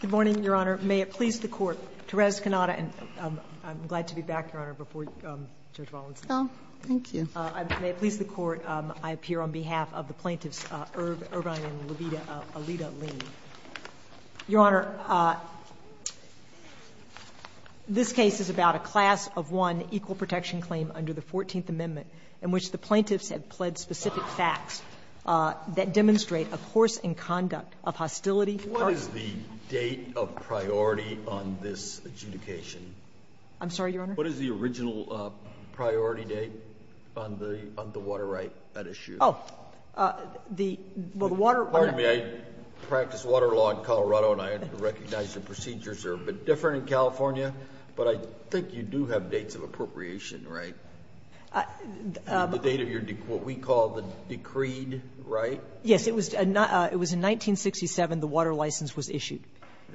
Good morning, Your Honor. May it please the Court, I'm Therese Cannata and I'm glad to be back, Your Honor, before Judge Walensky. Thank you. May it please the Court, I appear on behalf of the plaintiffs Irvine and Levita Leen. Your Honor, this case is about a class of one equal protection claim under the 14th Amendment in which the plaintiffs have pled specific facts that demonstrate a course in conduct of hostility. What is the date of priority on this adjudication? I'm sorry, Your Honor? What is the original priority date on the water right at issue? Oh, the, well the water Pardon me, I practice water law in Colorado and I recognize the procedures are a bit different in California, but I think you do have dates of appropriation, right? The date of your, what we call the decreed right? Yes, it was in 1967 the water license was issued.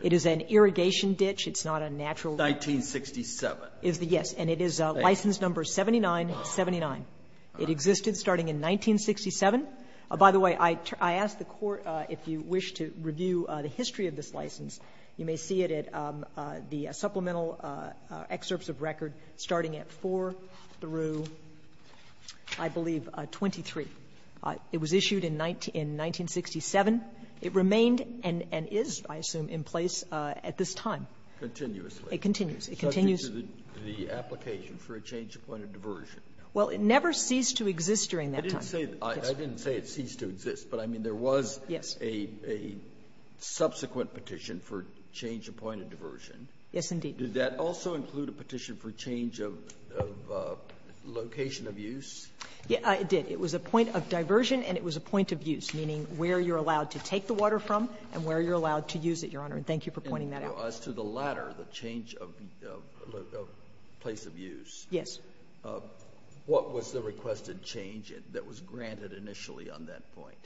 It is an irrigation ditch. It's not a natural 1967. Yes, and it is license number 7979. It existed starting in 1967. By the way, I asked the Court if you wish to review the history of this license. You may see it at the supplemental excerpts of record starting at 4 through, I believe, 23. It was issued in 1967. It remained and is, I assume, in place at this time. Continuously. It continues. Subject to the application for a change of point of diversion. Well, it never ceased to exist during that time. I didn't say it ceased to exist, but I mean there was a subsequent petition for change of point of diversion. Yes, indeed. Did that also include a petition for change of location of use? Yes, it did. It was a point of diversion and it was a point of use, meaning where you're allowed to take the water from and where you're allowed to use it, Your Honor, and thank you for pointing that out. As to the latter, the change of place of use. Yes. What was the requested change that was granted initially on that point?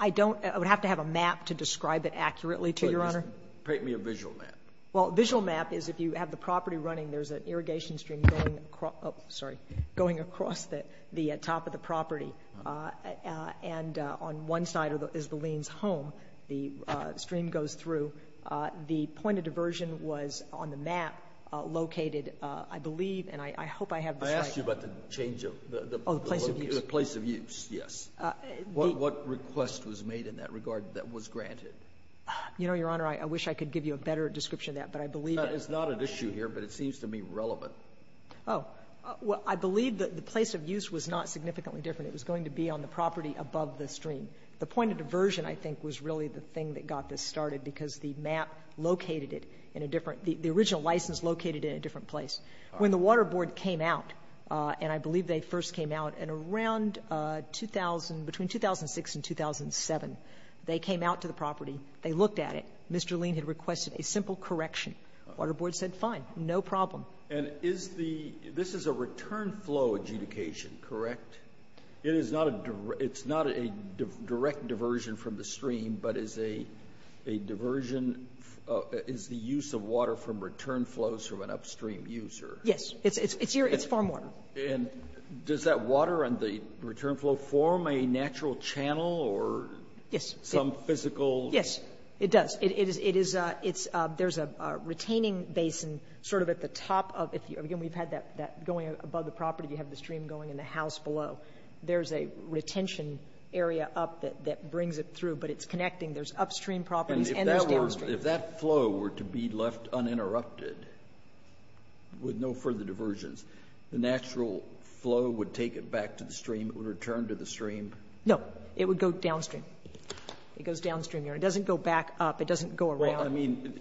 I don't, I would have to have a map to describe it accurately to Your Honor. Well, just paint me a visual map. Well, a visual map is if you have the property running, there's an irrigation stream going across the top of the property and on one side is the lien's home. The stream goes through. The point of diversion was on the map located, I believe, and I hope I have this right. I asked you about the change of the place of use. The place of use, yes. What request was made in that regard that was granted? You know, Your Honor, I wish I could give you a better description of that, but I believe it. It's not an issue here, but it seems to me relevant. Oh. Well, I believe that the place of use was not significantly different. It was going to be on the property above the stream. The point of diversion, I think, was really the thing that got this started because the map located it in a different, the original license located it in a different place. When the Water Board came out, and I believe they first came out in around 2000, between 2006 and 2007, they came out to the property. They looked at it. Mr. Lien had requested a simple correction. Water Board said fine, no problem. And is the, this is a return flow adjudication, correct? It is not a direct diversion from the stream, but is a diversion, is the use of water from return flows from an upstream user? Yes. It's here, it's farm water. And does that water on the return flow form a natural channel or some physical? Yes, it does. There's a retaining basin sort of at the top of it. Again, we've had that going above the property. You have the stream going in the house below. There's a retention area up that brings it through, but it's connecting. There's upstream properties and there's downstream. And if that flow were to be left uninterrupted with no further diversions, the natural flow would take it back to the stream? It would return to the stream? No, it would go downstream. It goes downstream. It doesn't go back up. It doesn't go around. Well, I mean,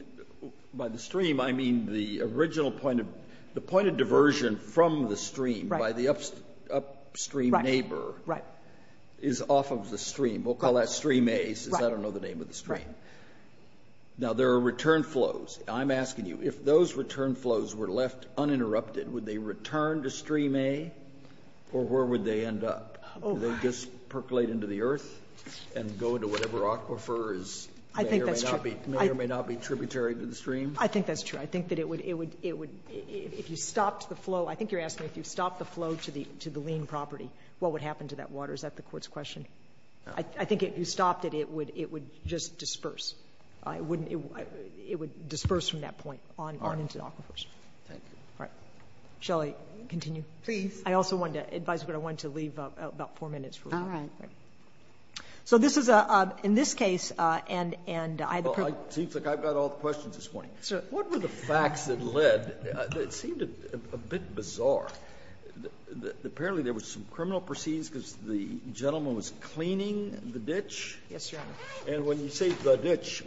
by the stream, I mean the original point of, the point of diversion from the stream by the upstream neighbor is off of the stream. We'll call that stream A, since I don't know the name of the stream. Now, there are return flows. I'm asking you, if those return flows were left uninterrupted, would they return to stream A or where would they end up? Would they just percolate into the earth and go into whatever aquifer is there right now? I think that's true. May or may not be tributary to the stream? I think that's true. I think that it would, if you stopped the flow, I think you're asking if you stopped the flow to the lean property, what would happen to that water? Is that the court's question? I think if you stopped it, it would just disperse. It would disperse from that point on into the aquifers. Thank you. All right. Shall I continue? Please. I also wanted to advise, but I wanted to leave about four minutes. All right. So this is a, in this case, and I had the privilege. Well, it seems like I've got all the questions this morning. What were the facts that led? It seemed a bit bizarre. Apparently there was some criminal proceedings because the gentleman was cleaning the ditch. Yes, Your Honor. And when you say the ditch,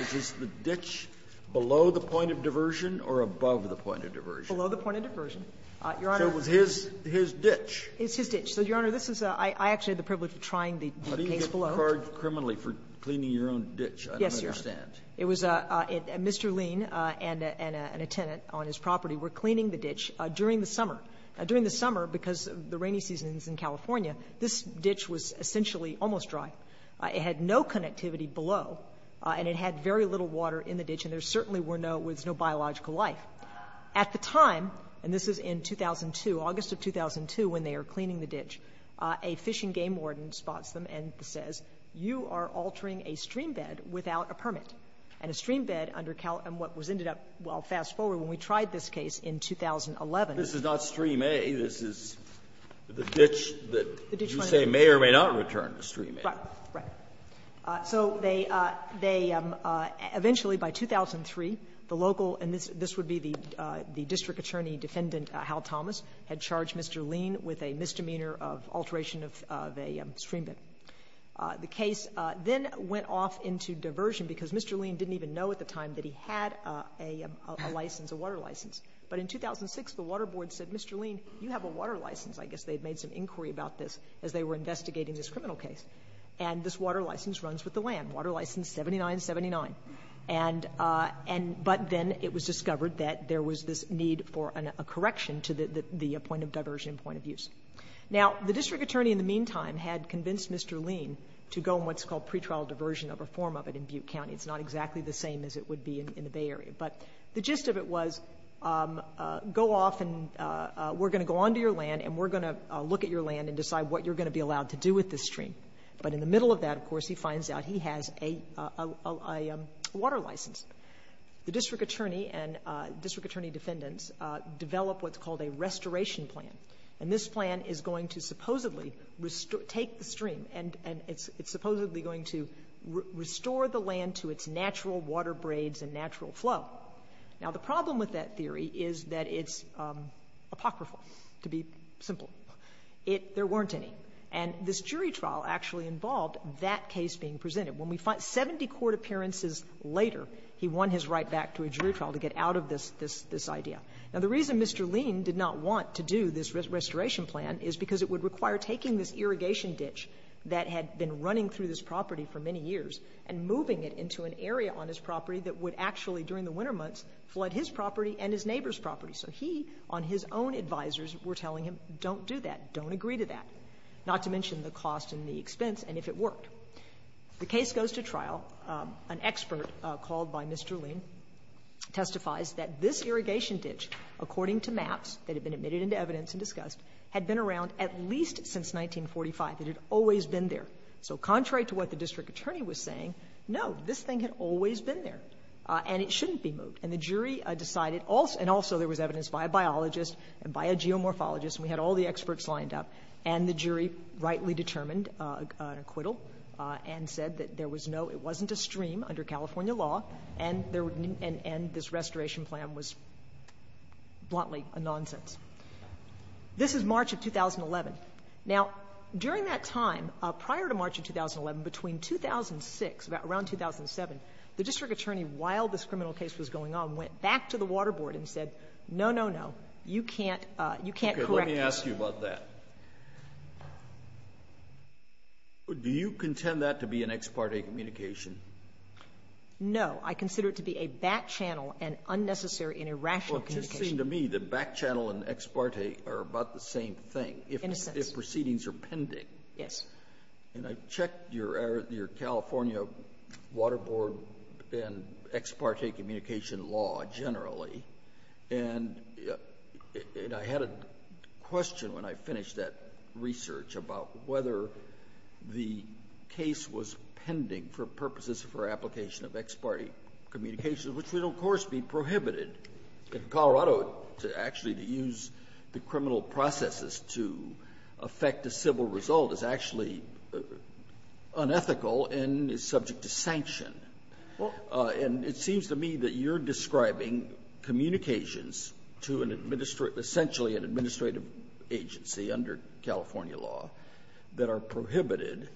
is this the ditch below the point of diversion or above the point of diversion? Your Honor. So it was his ditch. It's his ditch. So, Your Honor, this is a, I actually had the privilege of trying the case below. How do you get charged criminally for cleaning your own ditch? I don't understand. Yes, Your Honor. It was a, Mr. Lean and a, and a tenant on his property were cleaning the ditch during the summer. During the summer, because of the rainy seasons in California, this ditch was essentially almost dry. It had no connectivity below, and it had very little water in the ditch, and there certainly were no, was no biological life. At the time, and this is in 2002, August of 2002, when they are cleaning the ditch, a fishing game warden spots them and says, you are altering a streambed without a permit. And a streambed under Cal, and what was ended up, well, fast forward, when we tried this case in 2011. This is not stream A. This is the ditch that you say may or may not return to stream A. Right, right. So they eventually, by 2003, the local, and this would be the district attorney defendant, Hal Thomas, had charged Mr. Lean with a misdemeanor of alteration of a streambed. The case then went off into diversion because Mr. Lean didn't even know at the time that he had a license, a water license. But in 2006, the water board said, Mr. Lean, you have a water license. I guess they had made some inquiry about this as they were investigating this criminal case. And this water license runs with the land, water license 7979. But then it was discovered that there was this need for a correction to the point of diversion and point of use. Now, the district attorney in the meantime had convinced Mr. Lean to go in what's called pretrial diversion of a form of it in Butte County. It's not exactly the same as it would be in the Bay Area. But the gist of it was, go off and we're going to go onto your land and we're going to look at your land and decide what you're going to be allowed to do with this stream. But in the middle of that, of course, he finds out he has a water license. The district attorney and district attorney defendants develop what's called a restoration plan. And this plan is going to supposedly take the stream and it's supposedly going to restore the land to its natural water braids and natural flow. Now, the problem with that theory is that it's apocryphal, to be simple. There weren't any. And this jury trial actually involved that case being presented. Seventy court appearances later, he won his right back to a jury trial to get out of this idea. Now, the reason Mr. Lean did not want to do this restoration plan is because it would require taking this irrigation ditch that had been running through this property for many years and moving it into an area on his property that would actually, during the winter months, flood his property and his neighbor's property. So he, on his own advisors, were telling him, don't do that, don't agree to that, not to mention the cost and the expense, and if it worked. The case goes to trial. An expert called by Mr. Lean testifies that this irrigation ditch, according to maps that had been admitted into evidence and discussed, had been around at least since 1945. It had always been there. So contrary to what the district attorney was saying, no, this thing had always been there and it shouldn't be moved. And the jury decided, and also there was evidence by a biologist and by a geomorphologist, and we had all the experts lined up, and the jury rightly determined an acquittal and said that there was no, it wasn't a stream under California law and this restoration plan was bluntly a nonsense. This is March of 2011. Now, during that time, prior to March of 2011, between 2006, around 2007, the district attorney went back to the water board and said, no, no, no, you can't correct this. Okay, let me ask you about that. Do you contend that to be an ex parte communication? No, I consider it to be a back channel and unnecessary and irrational communication. Well, it just seemed to me that back channel and ex parte are about the same thing. In a sense. If proceedings are pending. Yes. And I checked your California water board and ex parte communication law generally, and I had a question when I finished that research about whether the case was pending for purposes for application of ex parte communication, which would, of course, be prohibited. In Colorado, to actually use the criminal processes to affect a civil result is actually unethical and is subject to sanction. And it seems to me that you're describing communications to an administrative, essentially an administrative agency under California law that are prohibited.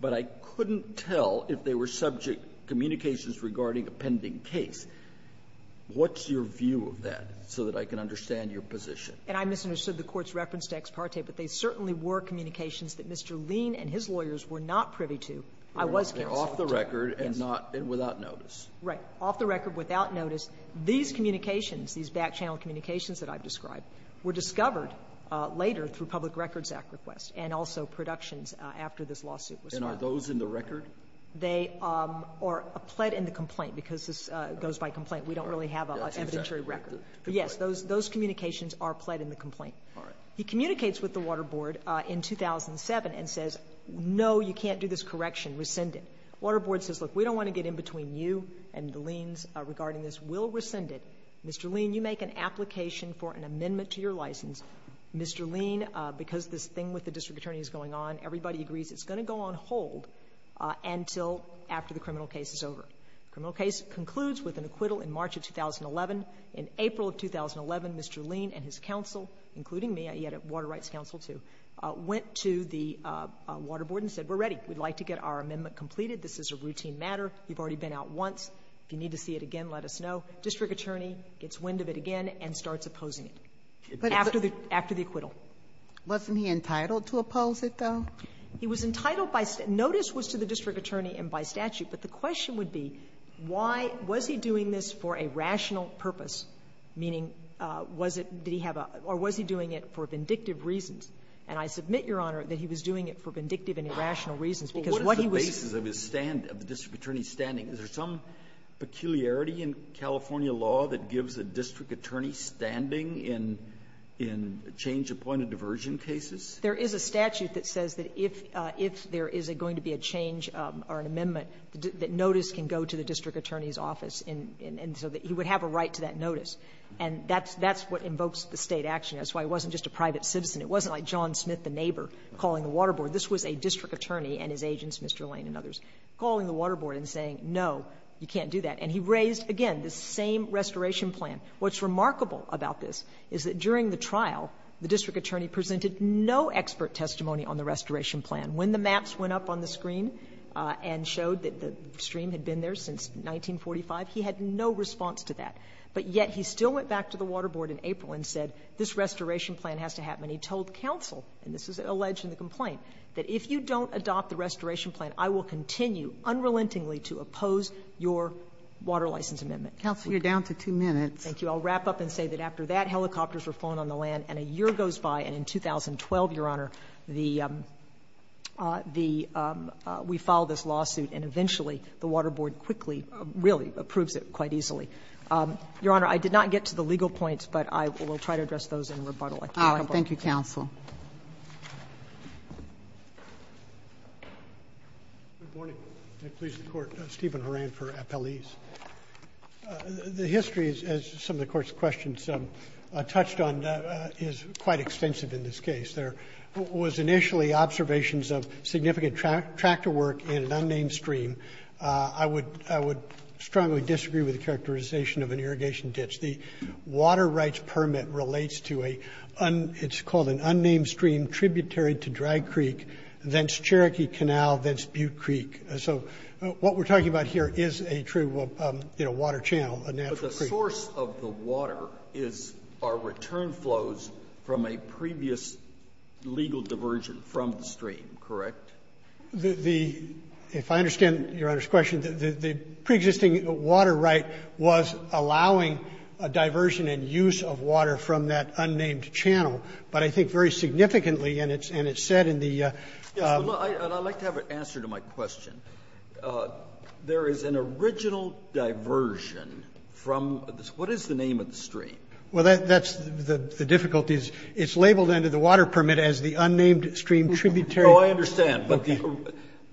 But I couldn't tell if they were subject communications regarding a pending case. What's your view of that so that I can understand your position? And I misunderstood the Court's reference to ex parte, but they certainly were communications that Mr. Lean and his lawyers were not privy to. I was counsel. They're off the record and not, and without notice. Right. Off the record, without notice. These communications, these back channel communications that I've described, were discovered later through public records act requests and also productions after this lawsuit was filed. And are those in the record? They are pled in the complaint because this goes by complaint. We don't really have an evidentiary record. Yes, those communications are pled in the complaint. All right. He communicates with the Water Board in 2007 and says, no, you can't do this correction, rescind it. Water Board says, look, we don't want to get in between you and the Leans regarding this. We'll rescind it. Mr. Lean, you make an application for an amendment to your license. Mr. Lean, because this thing with the district attorney is going on, everybody agrees it's going to go on hold until after the criminal case is over. The criminal case concludes with an acquittal in March of 2011. In April of 2011, Mr. Lean and his counsel, including me, he had a water rights counsel too, went to the Water Board and said, we're ready. We'd like to get our amendment completed. This is a routine matter. We've already been out once. If you need to see it again, let us know. District attorney gets wind of it again and starts opposing it after the acquittal. Wasn't he entitled to oppose it, though? He was entitled by statute. Notice was to the district attorney and by statute. But the question would be, why was he doing this for a rational purpose, meaning was it, did he have a, or was he doing it for vindictive reasons? And I submit, Your Honor, that he was doing it for vindictive and irrational reasons, because what he was. Well, what is the basis of his stand, of the district attorney's standing? Is there some peculiarity in California law that gives a district attorney standing in change-appointed diversion cases? There is a statute that says that if there is going to be a change or an amendment, that notice can go to the district attorney's office. And so he would have a right to that notice. And that's what invokes the State action. That's why it wasn't just a private citizen. It wasn't like John Smith, the neighbor, calling the Water Board. This was a district attorney and his agents, Mr. Lane and others, calling the Water Board and saying, no, you can't do that. And he raised, again, the same restoration plan. What's remarkable about this is that during the trial, the district attorney presented no expert testimony on the restoration plan. When the maps went up on the screen and showed that the stream had been there since 1945, he had no response to that. But yet he still went back to the Water Board in April and said this restoration plan has to happen. And he told counsel, and this is alleged in the complaint, that if you don't adopt the restoration plan, I will continue unrelentingly to oppose your water license amendment. Counsel, you're down to two minutes. Thank you. I'll wrap up and say that after that, helicopters were flown on the land. And a year goes by. And in 2012, Your Honor, we filed this lawsuit. And eventually, the Water Board quickly, really, approves it quite easily. Your Honor, I did not get to the legal points. But I will try to address those in rebuttal. All right. Thank you, counsel. Good morning. Please support Stephen Horan for appellees. The history, as some of the Court's questions touched on, is quite extensive in this case. There was initially observations of significant tractor work in an unnamed stream. I would strongly disagree with the characterization of an irrigation ditch. The water rights permit relates to a un – it's called an unnamed stream. So what we're talking about here is a true, you know, water channel, a natural creek. But the source of the water is our return flows from a previous legal diversion from the stream, correct? The – if I understand Your Honor's question, the preexisting water right was allowing a diversion and use of water from that unnamed channel. But I think very significantly, and it's said in the – Yes, but I'd like to have an answer to my question. There is an original diversion from – what is the name of the stream? Well, that's – the difficulty is it's labeled under the water permit as the unnamed stream tributary. Oh, I understand. But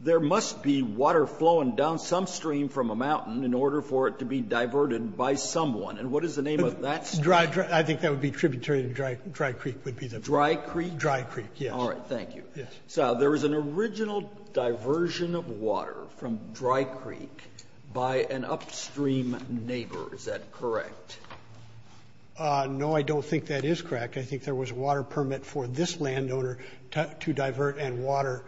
there must be water flowing down some stream from a mountain in order for it to be diverted by someone. And what is the name of that stream? Dry – I think that would be tributary to Dry Creek would be the – Dry Creek? Dry Creek, yes. All right, thank you. Yes. So there was an original diversion of water from Dry Creek by an upstream neighbor, is that correct? No, I don't think that is correct. I think there was a water permit for this landowner to divert and water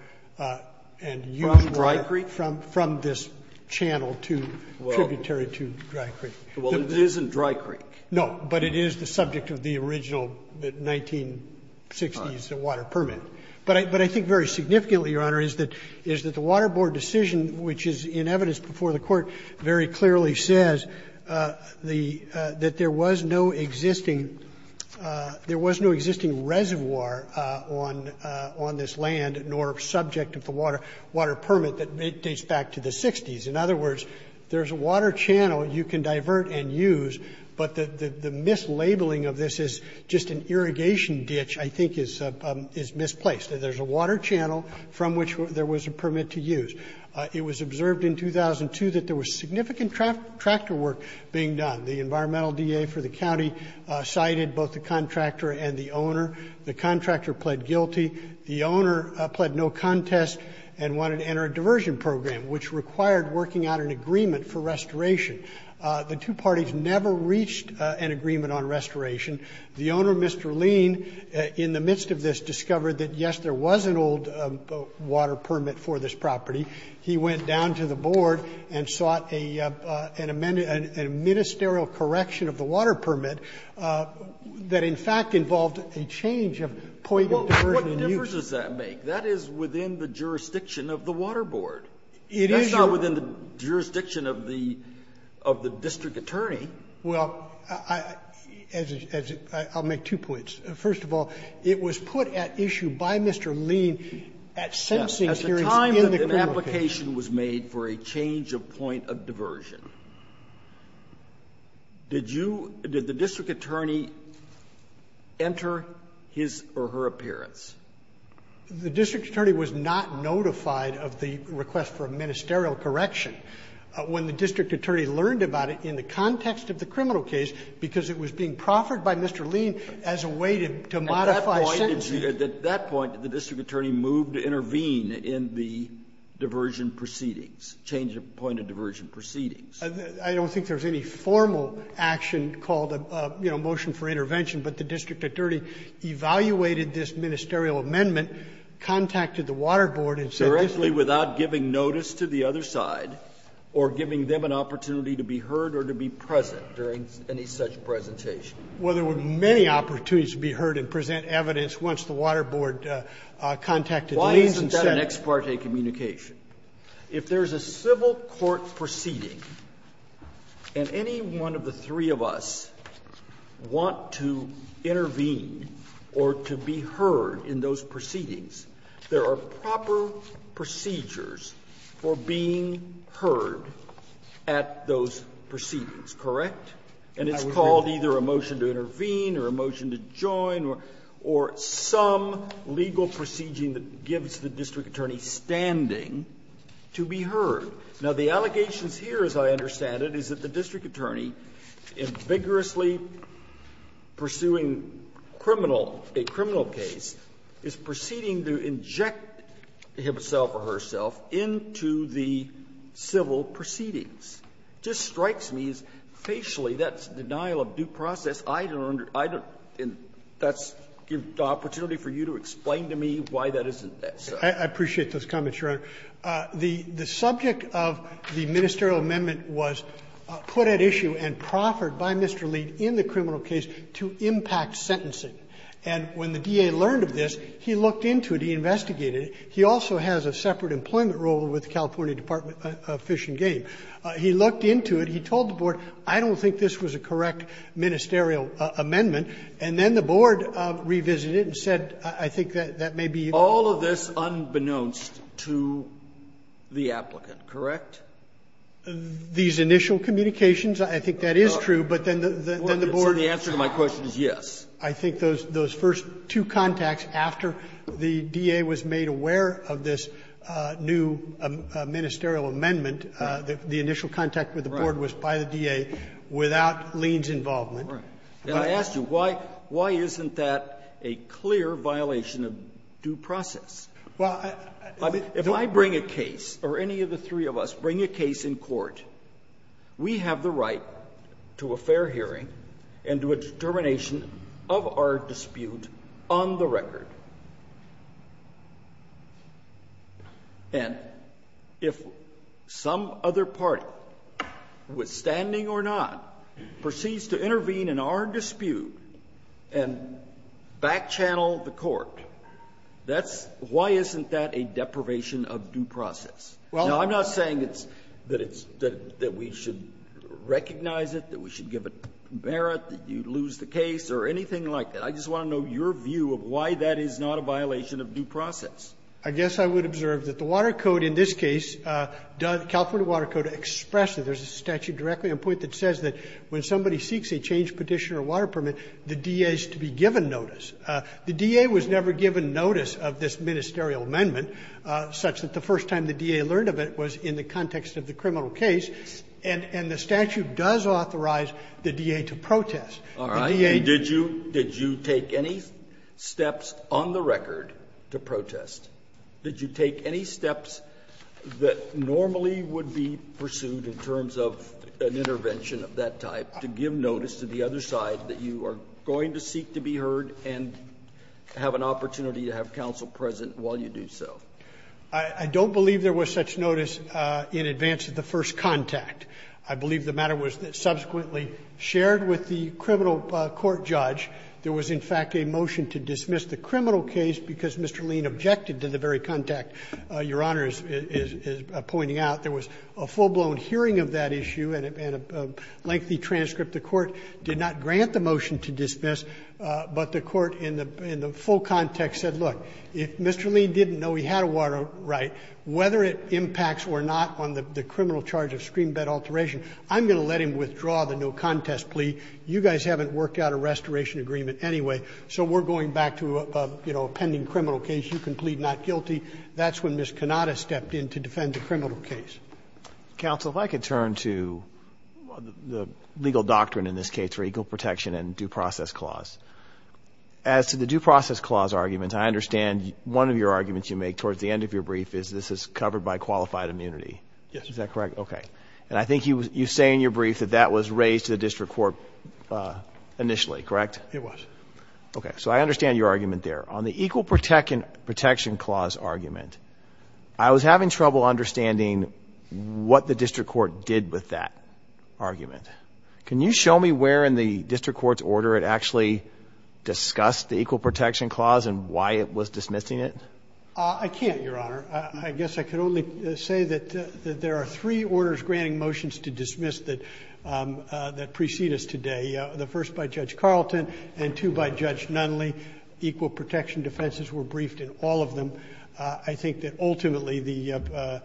and use – From Dry Creek? From this channel to – tributary to Dry Creek. Well, it isn't Dry Creek. No, but it is the subject of the original 1960s water permit. But I think very significantly, Your Honor, is that the Water Board decision, which is in evidence before the Court, very clearly says that there was no existing – there was no existing reservoir on this land nor subject of the water permit that dates back to the 60s. In other words, there's a water channel you can divert and use, but the mislabeling of this as just an irrigation ditch, I think, is misplaced. There's a water channel from which there was a permit to use. It was observed in 2002 that there was significant tractor work being done. The environmental DA for the county cited both the contractor and the owner. The contractor pled guilty. The owner pled no contest and wanted to enter a diversion program, which required working out an agreement for restoration. The two parties never reached an agreement on restoration. The owner, Mr. Lean, in the midst of this, discovered that, yes, there was an old water permit for this property. He went down to the Board and sought a ministerial correction of the water permit that, in fact, involved a change of point of diversion and use. Well, what difference does that make? That is within the jurisdiction of the Water Board. It is your own. That's not within the jurisdiction of the district attorney. Well, I'll make two points. First of all, it was put at issue by Mr. Lean at sensing hearings in the community. Yes. At the time that an application was made for a change of point of diversion. Did you – did the district attorney enter his or her appearance? The district attorney was not notified of the request for a ministerial correction when the district attorney learned about it in the context of the criminal case because it was being proffered by Mr. Lean as a way to modify sentencing. At that point, did you – at that point, did the district attorney move to intervene in the diversion proceedings, change of point of diversion proceedings? I don't think there was any formal action called a, you know, motion for intervention, but the district attorney evaluated this ministerial amendment, contacted the Water Board, and said this is the case. Directly without giving notice to the other side or giving them an opportunity to be heard or to be present during any such presentation? Well, there were many opportunities to be heard and present evidence once the Water Board contacted Lean and said it. Why isn't that an ex parte communication? If there is a civil court proceeding and any one of the three of us want to intervene or to be heard in those proceedings, there are proper procedures for being heard at those proceedings, correct? And it's called either a motion to intervene or a motion to join or some legal proceeding that gives the district attorney standing to be heard. Now, the allegations here, as I understand it, is that the district attorney, in vigorously pursuing criminal, a criminal case, is proceeding to inject himself or herself into the civil proceedings. It just strikes me as facially that's denial of due process. I don't understand. That's an opportunity for you to explain to me why that isn't so. I appreciate those comments, Your Honor. The subject of the ministerial amendment was put at issue and proffered by Mr. Lean in the criminal case to impact sentencing. And when the DA learned of this, he looked into it. He investigated it. He also has a separate employment role with the California Department of Fish and Game. He looked into it. He told the board, I don't think this was a correct ministerial amendment. And then the board revisited it and said, I think that that may be. All of this unbeknownst to the applicant, correct? These initial communications, I think that is true, but then the board. The answer to my question is yes. I think those first two contacts after the DA was made aware of this new ministerial amendment, the initial contact with the board was by the DA without Lean's involvement. And I ask you, why isn't that a clear violation of due process? If I bring a case or any of the three of us bring a case in court, we have the right to a fair hearing and to a determination of our dispute on the record. And if some other party, withstanding or not, proceeds to intervene in our dispute and backchannel the court, that's why isn't that a deprivation of due process? Now, I'm not saying that we should recognize it, that we should give it merit, that you lose the case or anything like that. I just want to know your view of why that is not a violation of due process. I guess I would observe that the Water Code in this case, California Water Code, expressed that there's a statute directly on point that says that when somebody seeks a change petition or water permit, the DA is to be given notice. The DA was never given notice of this ministerial amendment, such that the first time the DA learned of it was in the context of the criminal case. And the statute does authorize the DA to protest. Did you take any steps on the record to protest? Did you take any steps that normally would be pursued in terms of an intervention of that type to give notice to the other side that you are going to seek to be heard and have an opportunity to have counsel present while you do so? I don't believe there was such notice in advance of the first contact. I believe the matter was subsequently shared with the criminal court judge. There was, in fact, a motion to dismiss the criminal case because Mr. Lean objected to the very contact Your Honor is pointing out. There was a full-blown hearing of that issue and a lengthy transcript. The Court did not grant the motion to dismiss, but the Court in the full context said, look, if Mr. Lean didn't know he had a water right, whether it impacts or not on the criminal charge of screen bed alteration, I'm going to let him withdraw the no contest plea. You guys haven't worked out a restoration agreement anyway, so we're going back to a pending criminal case. You can plead not guilty. That's when Ms. Cannata stepped in to defend the criminal case. Counsel, if I could turn to the legal doctrine in this case for equal protection and due process clause. As to the due process clause argument, I understand one of your arguments you make towards the end of your brief is this is covered by qualified immunity. Yes. Is that correct? Okay. And I think you say in your brief that that was raised to the district court initially, correct? It was. Okay. So I understand your argument there. On the equal protection clause argument, I was having trouble understanding what the district court did with that argument. Can you show me where in the district court's order it actually discussed the equal protection clause and why it was dismissing it? I can't, Your Honor. I guess I can only say that there are three orders granting motions to dismiss that precede us today, the first by Judge Carlton and two by Judge Nunley. Equal protection defenses were briefed in all of them. I think that ultimately the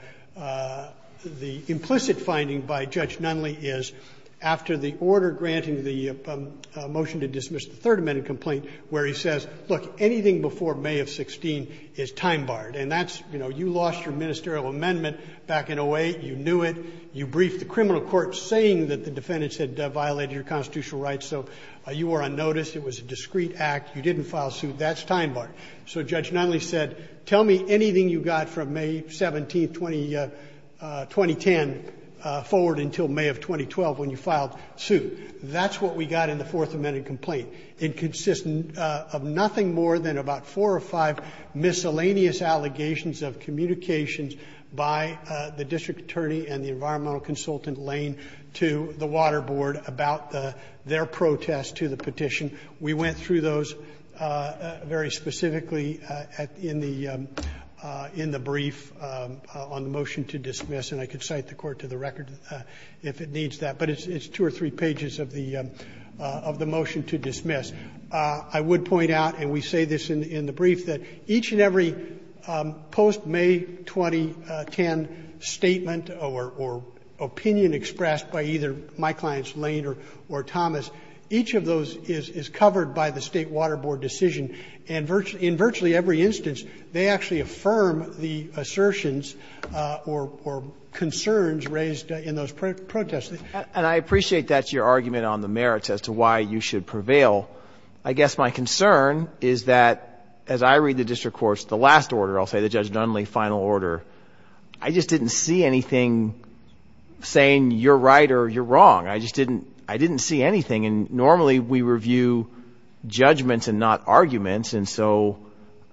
implicit finding by Judge Nunley is after the order granting the motion to dismiss the Third Amendment complaint where he says, look, anything before May of 16 is time barred. And that's, you know, you lost your ministerial amendment back in 08. You knew it. You briefed the criminal court saying that the defendants had violated your constitutional rights, so you were unnoticed. It was a discreet act. You didn't file suit. That's time barred. So Judge Nunley said, tell me anything you got from May 17, 2010, forward until May of 2012 when you filed suit. That's what we got in the Fourth Amendment complaint. It consists of nothing more than about four or five miscellaneous allegations of communications by the district attorney and the environmental consultant Lane to the Water Board about their protest to the petition. We went through those very specifically in the brief on the motion to dismiss, and I could cite the court to the record if it needs that. But it's two or three pages of the motion to dismiss. I would point out, and we say this in the brief, that each and every post-May 2010 statement or opinion expressed by either my clients Lane or Thomas, each of those is covered by the State Water Board decision, and in virtually every instance they actually affirm the assertions or concerns raised in those protests. And I appreciate that's your argument on the merits as to why you should prevail. I guess my concern is that as I read the district court's last order, I'll say the Judge Nunley final order, I just didn't see anything saying you're right or you're wrong. I just didn't see anything. And normally we review judgments and not arguments, and so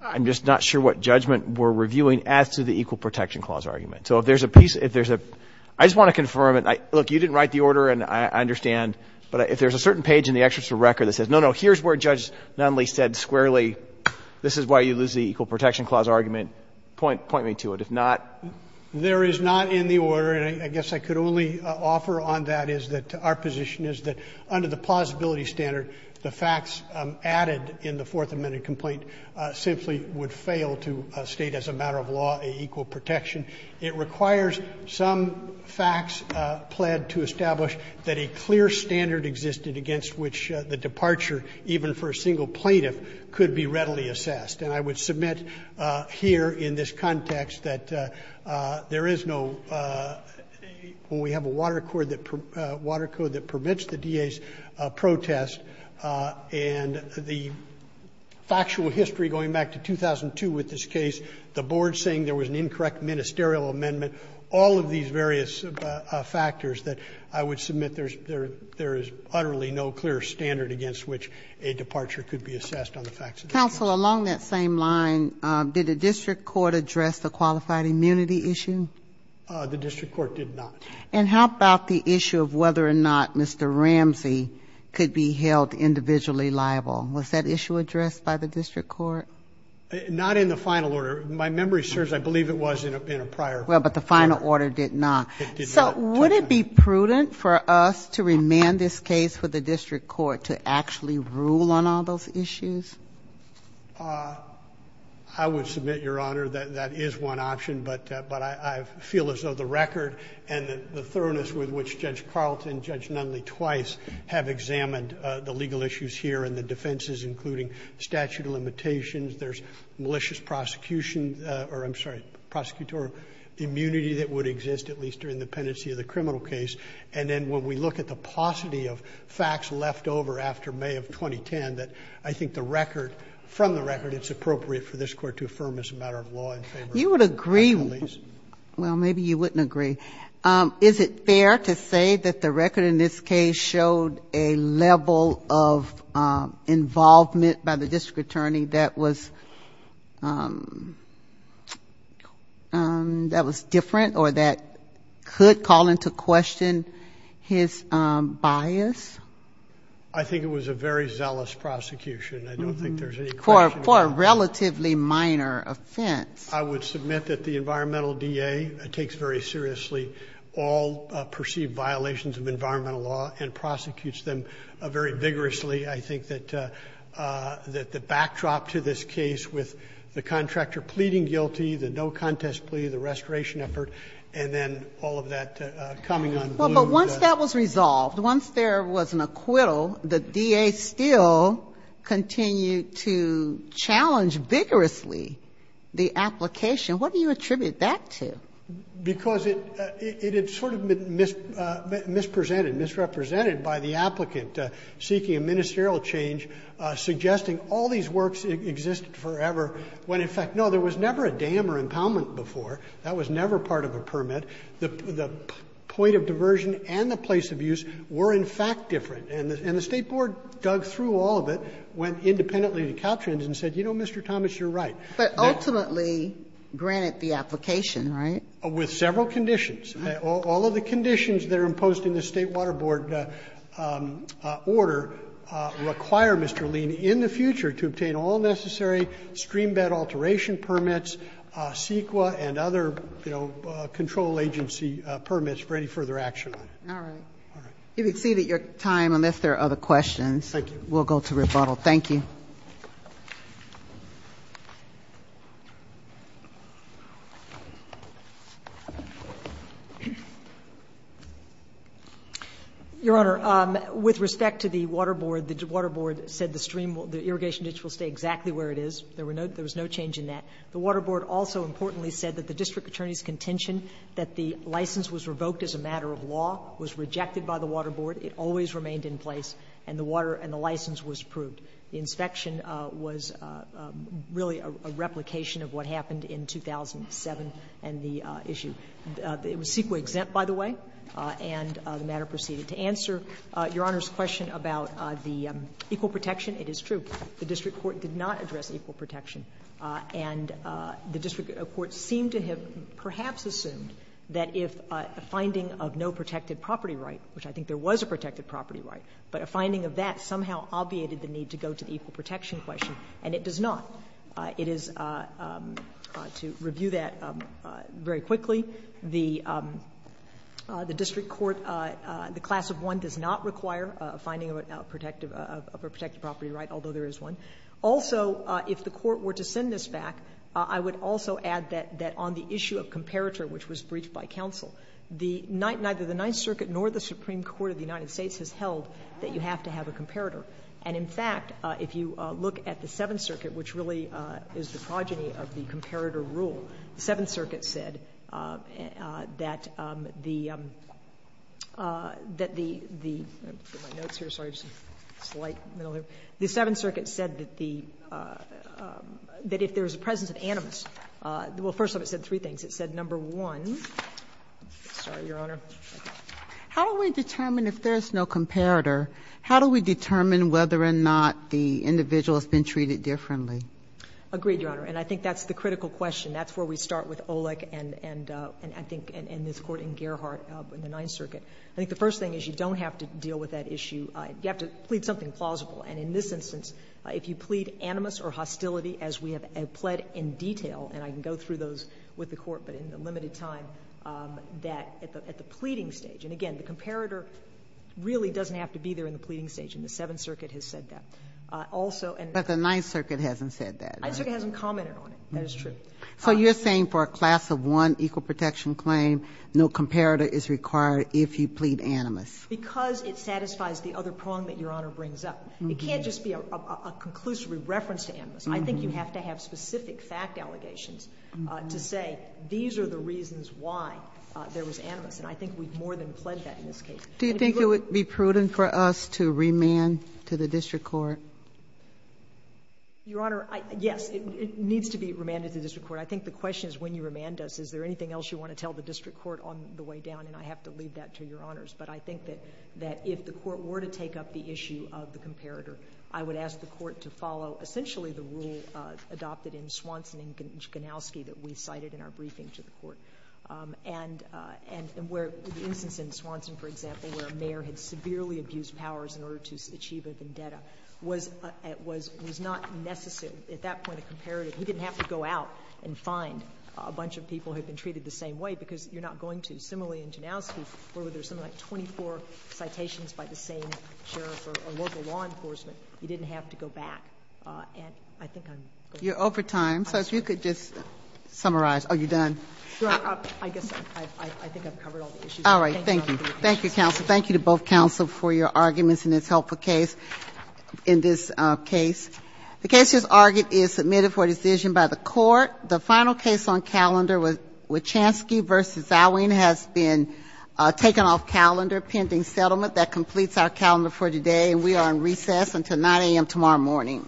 I'm just not sure what judgment we're reviewing as to the Equal Protection Clause argument. So if there's a piece – if there's a – I just want to confirm it. Look, you didn't write the order, and I understand, but if there's a certain page in the excerpt of the record that says, no, no, here's where Judge Nunley said squarely this is why you lose the Equal Protection Clause argument, point me to it. If not – There is not in the order, and I guess I could only offer on that is that our position is that under the plausibility standard, the facts added in the Fourth Amendment complaint simply would fail to state as a matter of law an equal protection. It requires some facts pled to establish that a clear standard existed against which the departure, even for a single plaintiff, could be readily assessed. And I would submit here in this context that there is no – when we have a water code that permits the DA's protest and the factual history going back to 2002 with this case, the board saying there was an incorrect ministerial amendment, all of these various factors that I would submit there is utterly no clear standard against which a departure could be assessed on the facts of the case. Counsel, along that same line, did the district court address the qualified immunity issue? The district court did not. And how about the issue of whether or not Mr. Ramsey could be held individually liable? Was that issue addressed by the district court? Not in the final order. My memory serves, I believe it was in a prior order. Well, but the final order did not. It did not. So would it be prudent for us to remand this case for the district court to actually rule on all those issues? I would submit, Your Honor, that that is one option, but I feel as though the record and the thoroughness with which Judge Carlton and Judge Nunley twice have examined the legal issues here and the defenses, including statute of limitations, there's malicious prosecution, or I'm sorry, prosecutorial immunity that would exist at least during the pendency of the criminal case. And then when we look at the paucity of facts left over after May of 2010, that I think the record, from the record, it's appropriate for this Court to affirm as a matter of law and favor. You would agree. Well, maybe you wouldn't agree. Is it fair to say that the record in this case showed a level of involvement by the district attorney that was different or that could call into question his bias? I think it was a very zealous prosecution. I don't think there's any question about that. For a relatively minor offense. I would submit that the environmental DA takes very seriously all perceived violations of environmental law and prosecutes them very vigorously. I think that the backdrop to this case with the contractor pleading guilty, the no contest plea, the restoration effort, and then all of that coming on the blue. Well, but once that was resolved, once there was an acquittal, the DA still continued to challenge vigorously the application. What do you attribute that to? Because it had sort of been misrepresented, misrepresented by the applicant seeking a ministerial change, suggesting all these works existed forever, when, in fact, no, there was never a dam or impoundment before. That was never part of a permit. The point of diversion and the place of use were, in fact, different. And the State Board dug through all of it, went independently to Caltrans and said, you know, Mr. Thomas, you're right. But ultimately granted the application, right? With several conditions. All of the conditions that are imposed in the State Water Board order require Mr. Lien in the future to obtain all necessary stream bed alteration permits, CEQA, and other, you know, control agency permits for any further action on it. All right. You've exceeded your time unless there are other questions. Thank you. We'll go to rebuttal. Thank you. Your Honor, with respect to the Water Board, the Water Board said the irrigation ditch will stay exactly where it is. There was no change in that. The Water Board also importantly said that the district attorney's contention that the license was revoked as a matter of law was rejected by the Water Board. It always remained in place, and the water and the license was approved. The inspection was really a replication of what happened in 2007 and the issue. It was CEQA-exempt, by the way, and the matter proceeded. To answer Your Honor's question about the equal protection, it is true. The district court did not address equal protection. And the district court seemed to have perhaps assumed that if a finding of no protected property right, which I think there was a protected property right, but a finding of that somehow obviated the need to go to the equal protection question, and it does not. It is, to review that very quickly, the district court, the class of one does not require a finding of a protected property right, although there is one. Also, if the Court were to send this back, I would also add that on the issue of comparator, which was breached by counsel, neither the Ninth Circuit nor the Supreme Court of the United States has held that you have to have a comparator. And, in fact, if you look at the Seventh Circuit, which really is the progeny of the comparator rule, the Seventh Circuit said that the — let me get my notes here, sorry, there is a slight middle there. The Seventh Circuit said that the — that if there is a presence of animus — well, first of all, it said three things. It said, number one — sorry, Your Honor. How do we determine if there is no comparator? How do we determine whether or not the individual has been treated differently? Agreed, Your Honor. And I think that's the critical question. That's where we start with Olek and I think in this Court in Gerhardt in the Ninth Circuit. I think the first thing is you don't have to deal with that issue. You have to plead something plausible. And in this instance, if you plead animus or hostility, as we have pled in detail — and I can go through those with the Court, but in limited time — that at the pleading stage, and again, the comparator really doesn't have to be there in the pleading stage, and the Seventh Circuit has said that. Also, and — But the Ninth Circuit hasn't said that, right? The Ninth Circuit hasn't commented on it. That is true. So you're saying for a class of one equal protection claim, no comparator is required if you plead animus? Because it satisfies the other prong that Your Honor brings up. It can't just be a conclusive reference to animus. I think you have to have specific fact allegations to say these are the reasons why there was animus. And I think we've more than pled that in this case. Do you think it would be prudent for us to remand to the district court? Your Honor, yes. It needs to be remanded to the district court. I think the question is when you remand us, is there anything else you want to tell the district court on the way down? And I have to leave that to Your Honors. But I think that if the Court were to take up the issue of the comparator, I would ask the Court to follow essentially the rule adopted in Swanson and Ganowski that we cited in our briefing to the Court. And where the instance in Swanson, for example, where a mayor had severely abused powers in order to achieve a vendetta was not necessary. At that point, a comparator, he didn't have to go out and find a bunch of people who had been treated the same way because you're not going to. Similarly in Ganowski, where there's something like 24 citations by the same sheriff or local law enforcement, he didn't have to go back. And I think I'm going to close. You're over time, so if you could just summarize. Are you done? I guess I think I've covered all the issues. All right. Thank you. Thank you, counsel. Thank you to both counsel for your arguments in this helpful case, in this case. The case as argued is submitted for decision by the Court. The final case on calendar, Wachanski v. Zawin, has been taken off calendar, pending settlement. That completes our calendar for today. And we are on recess until 9 a.m. tomorrow morning.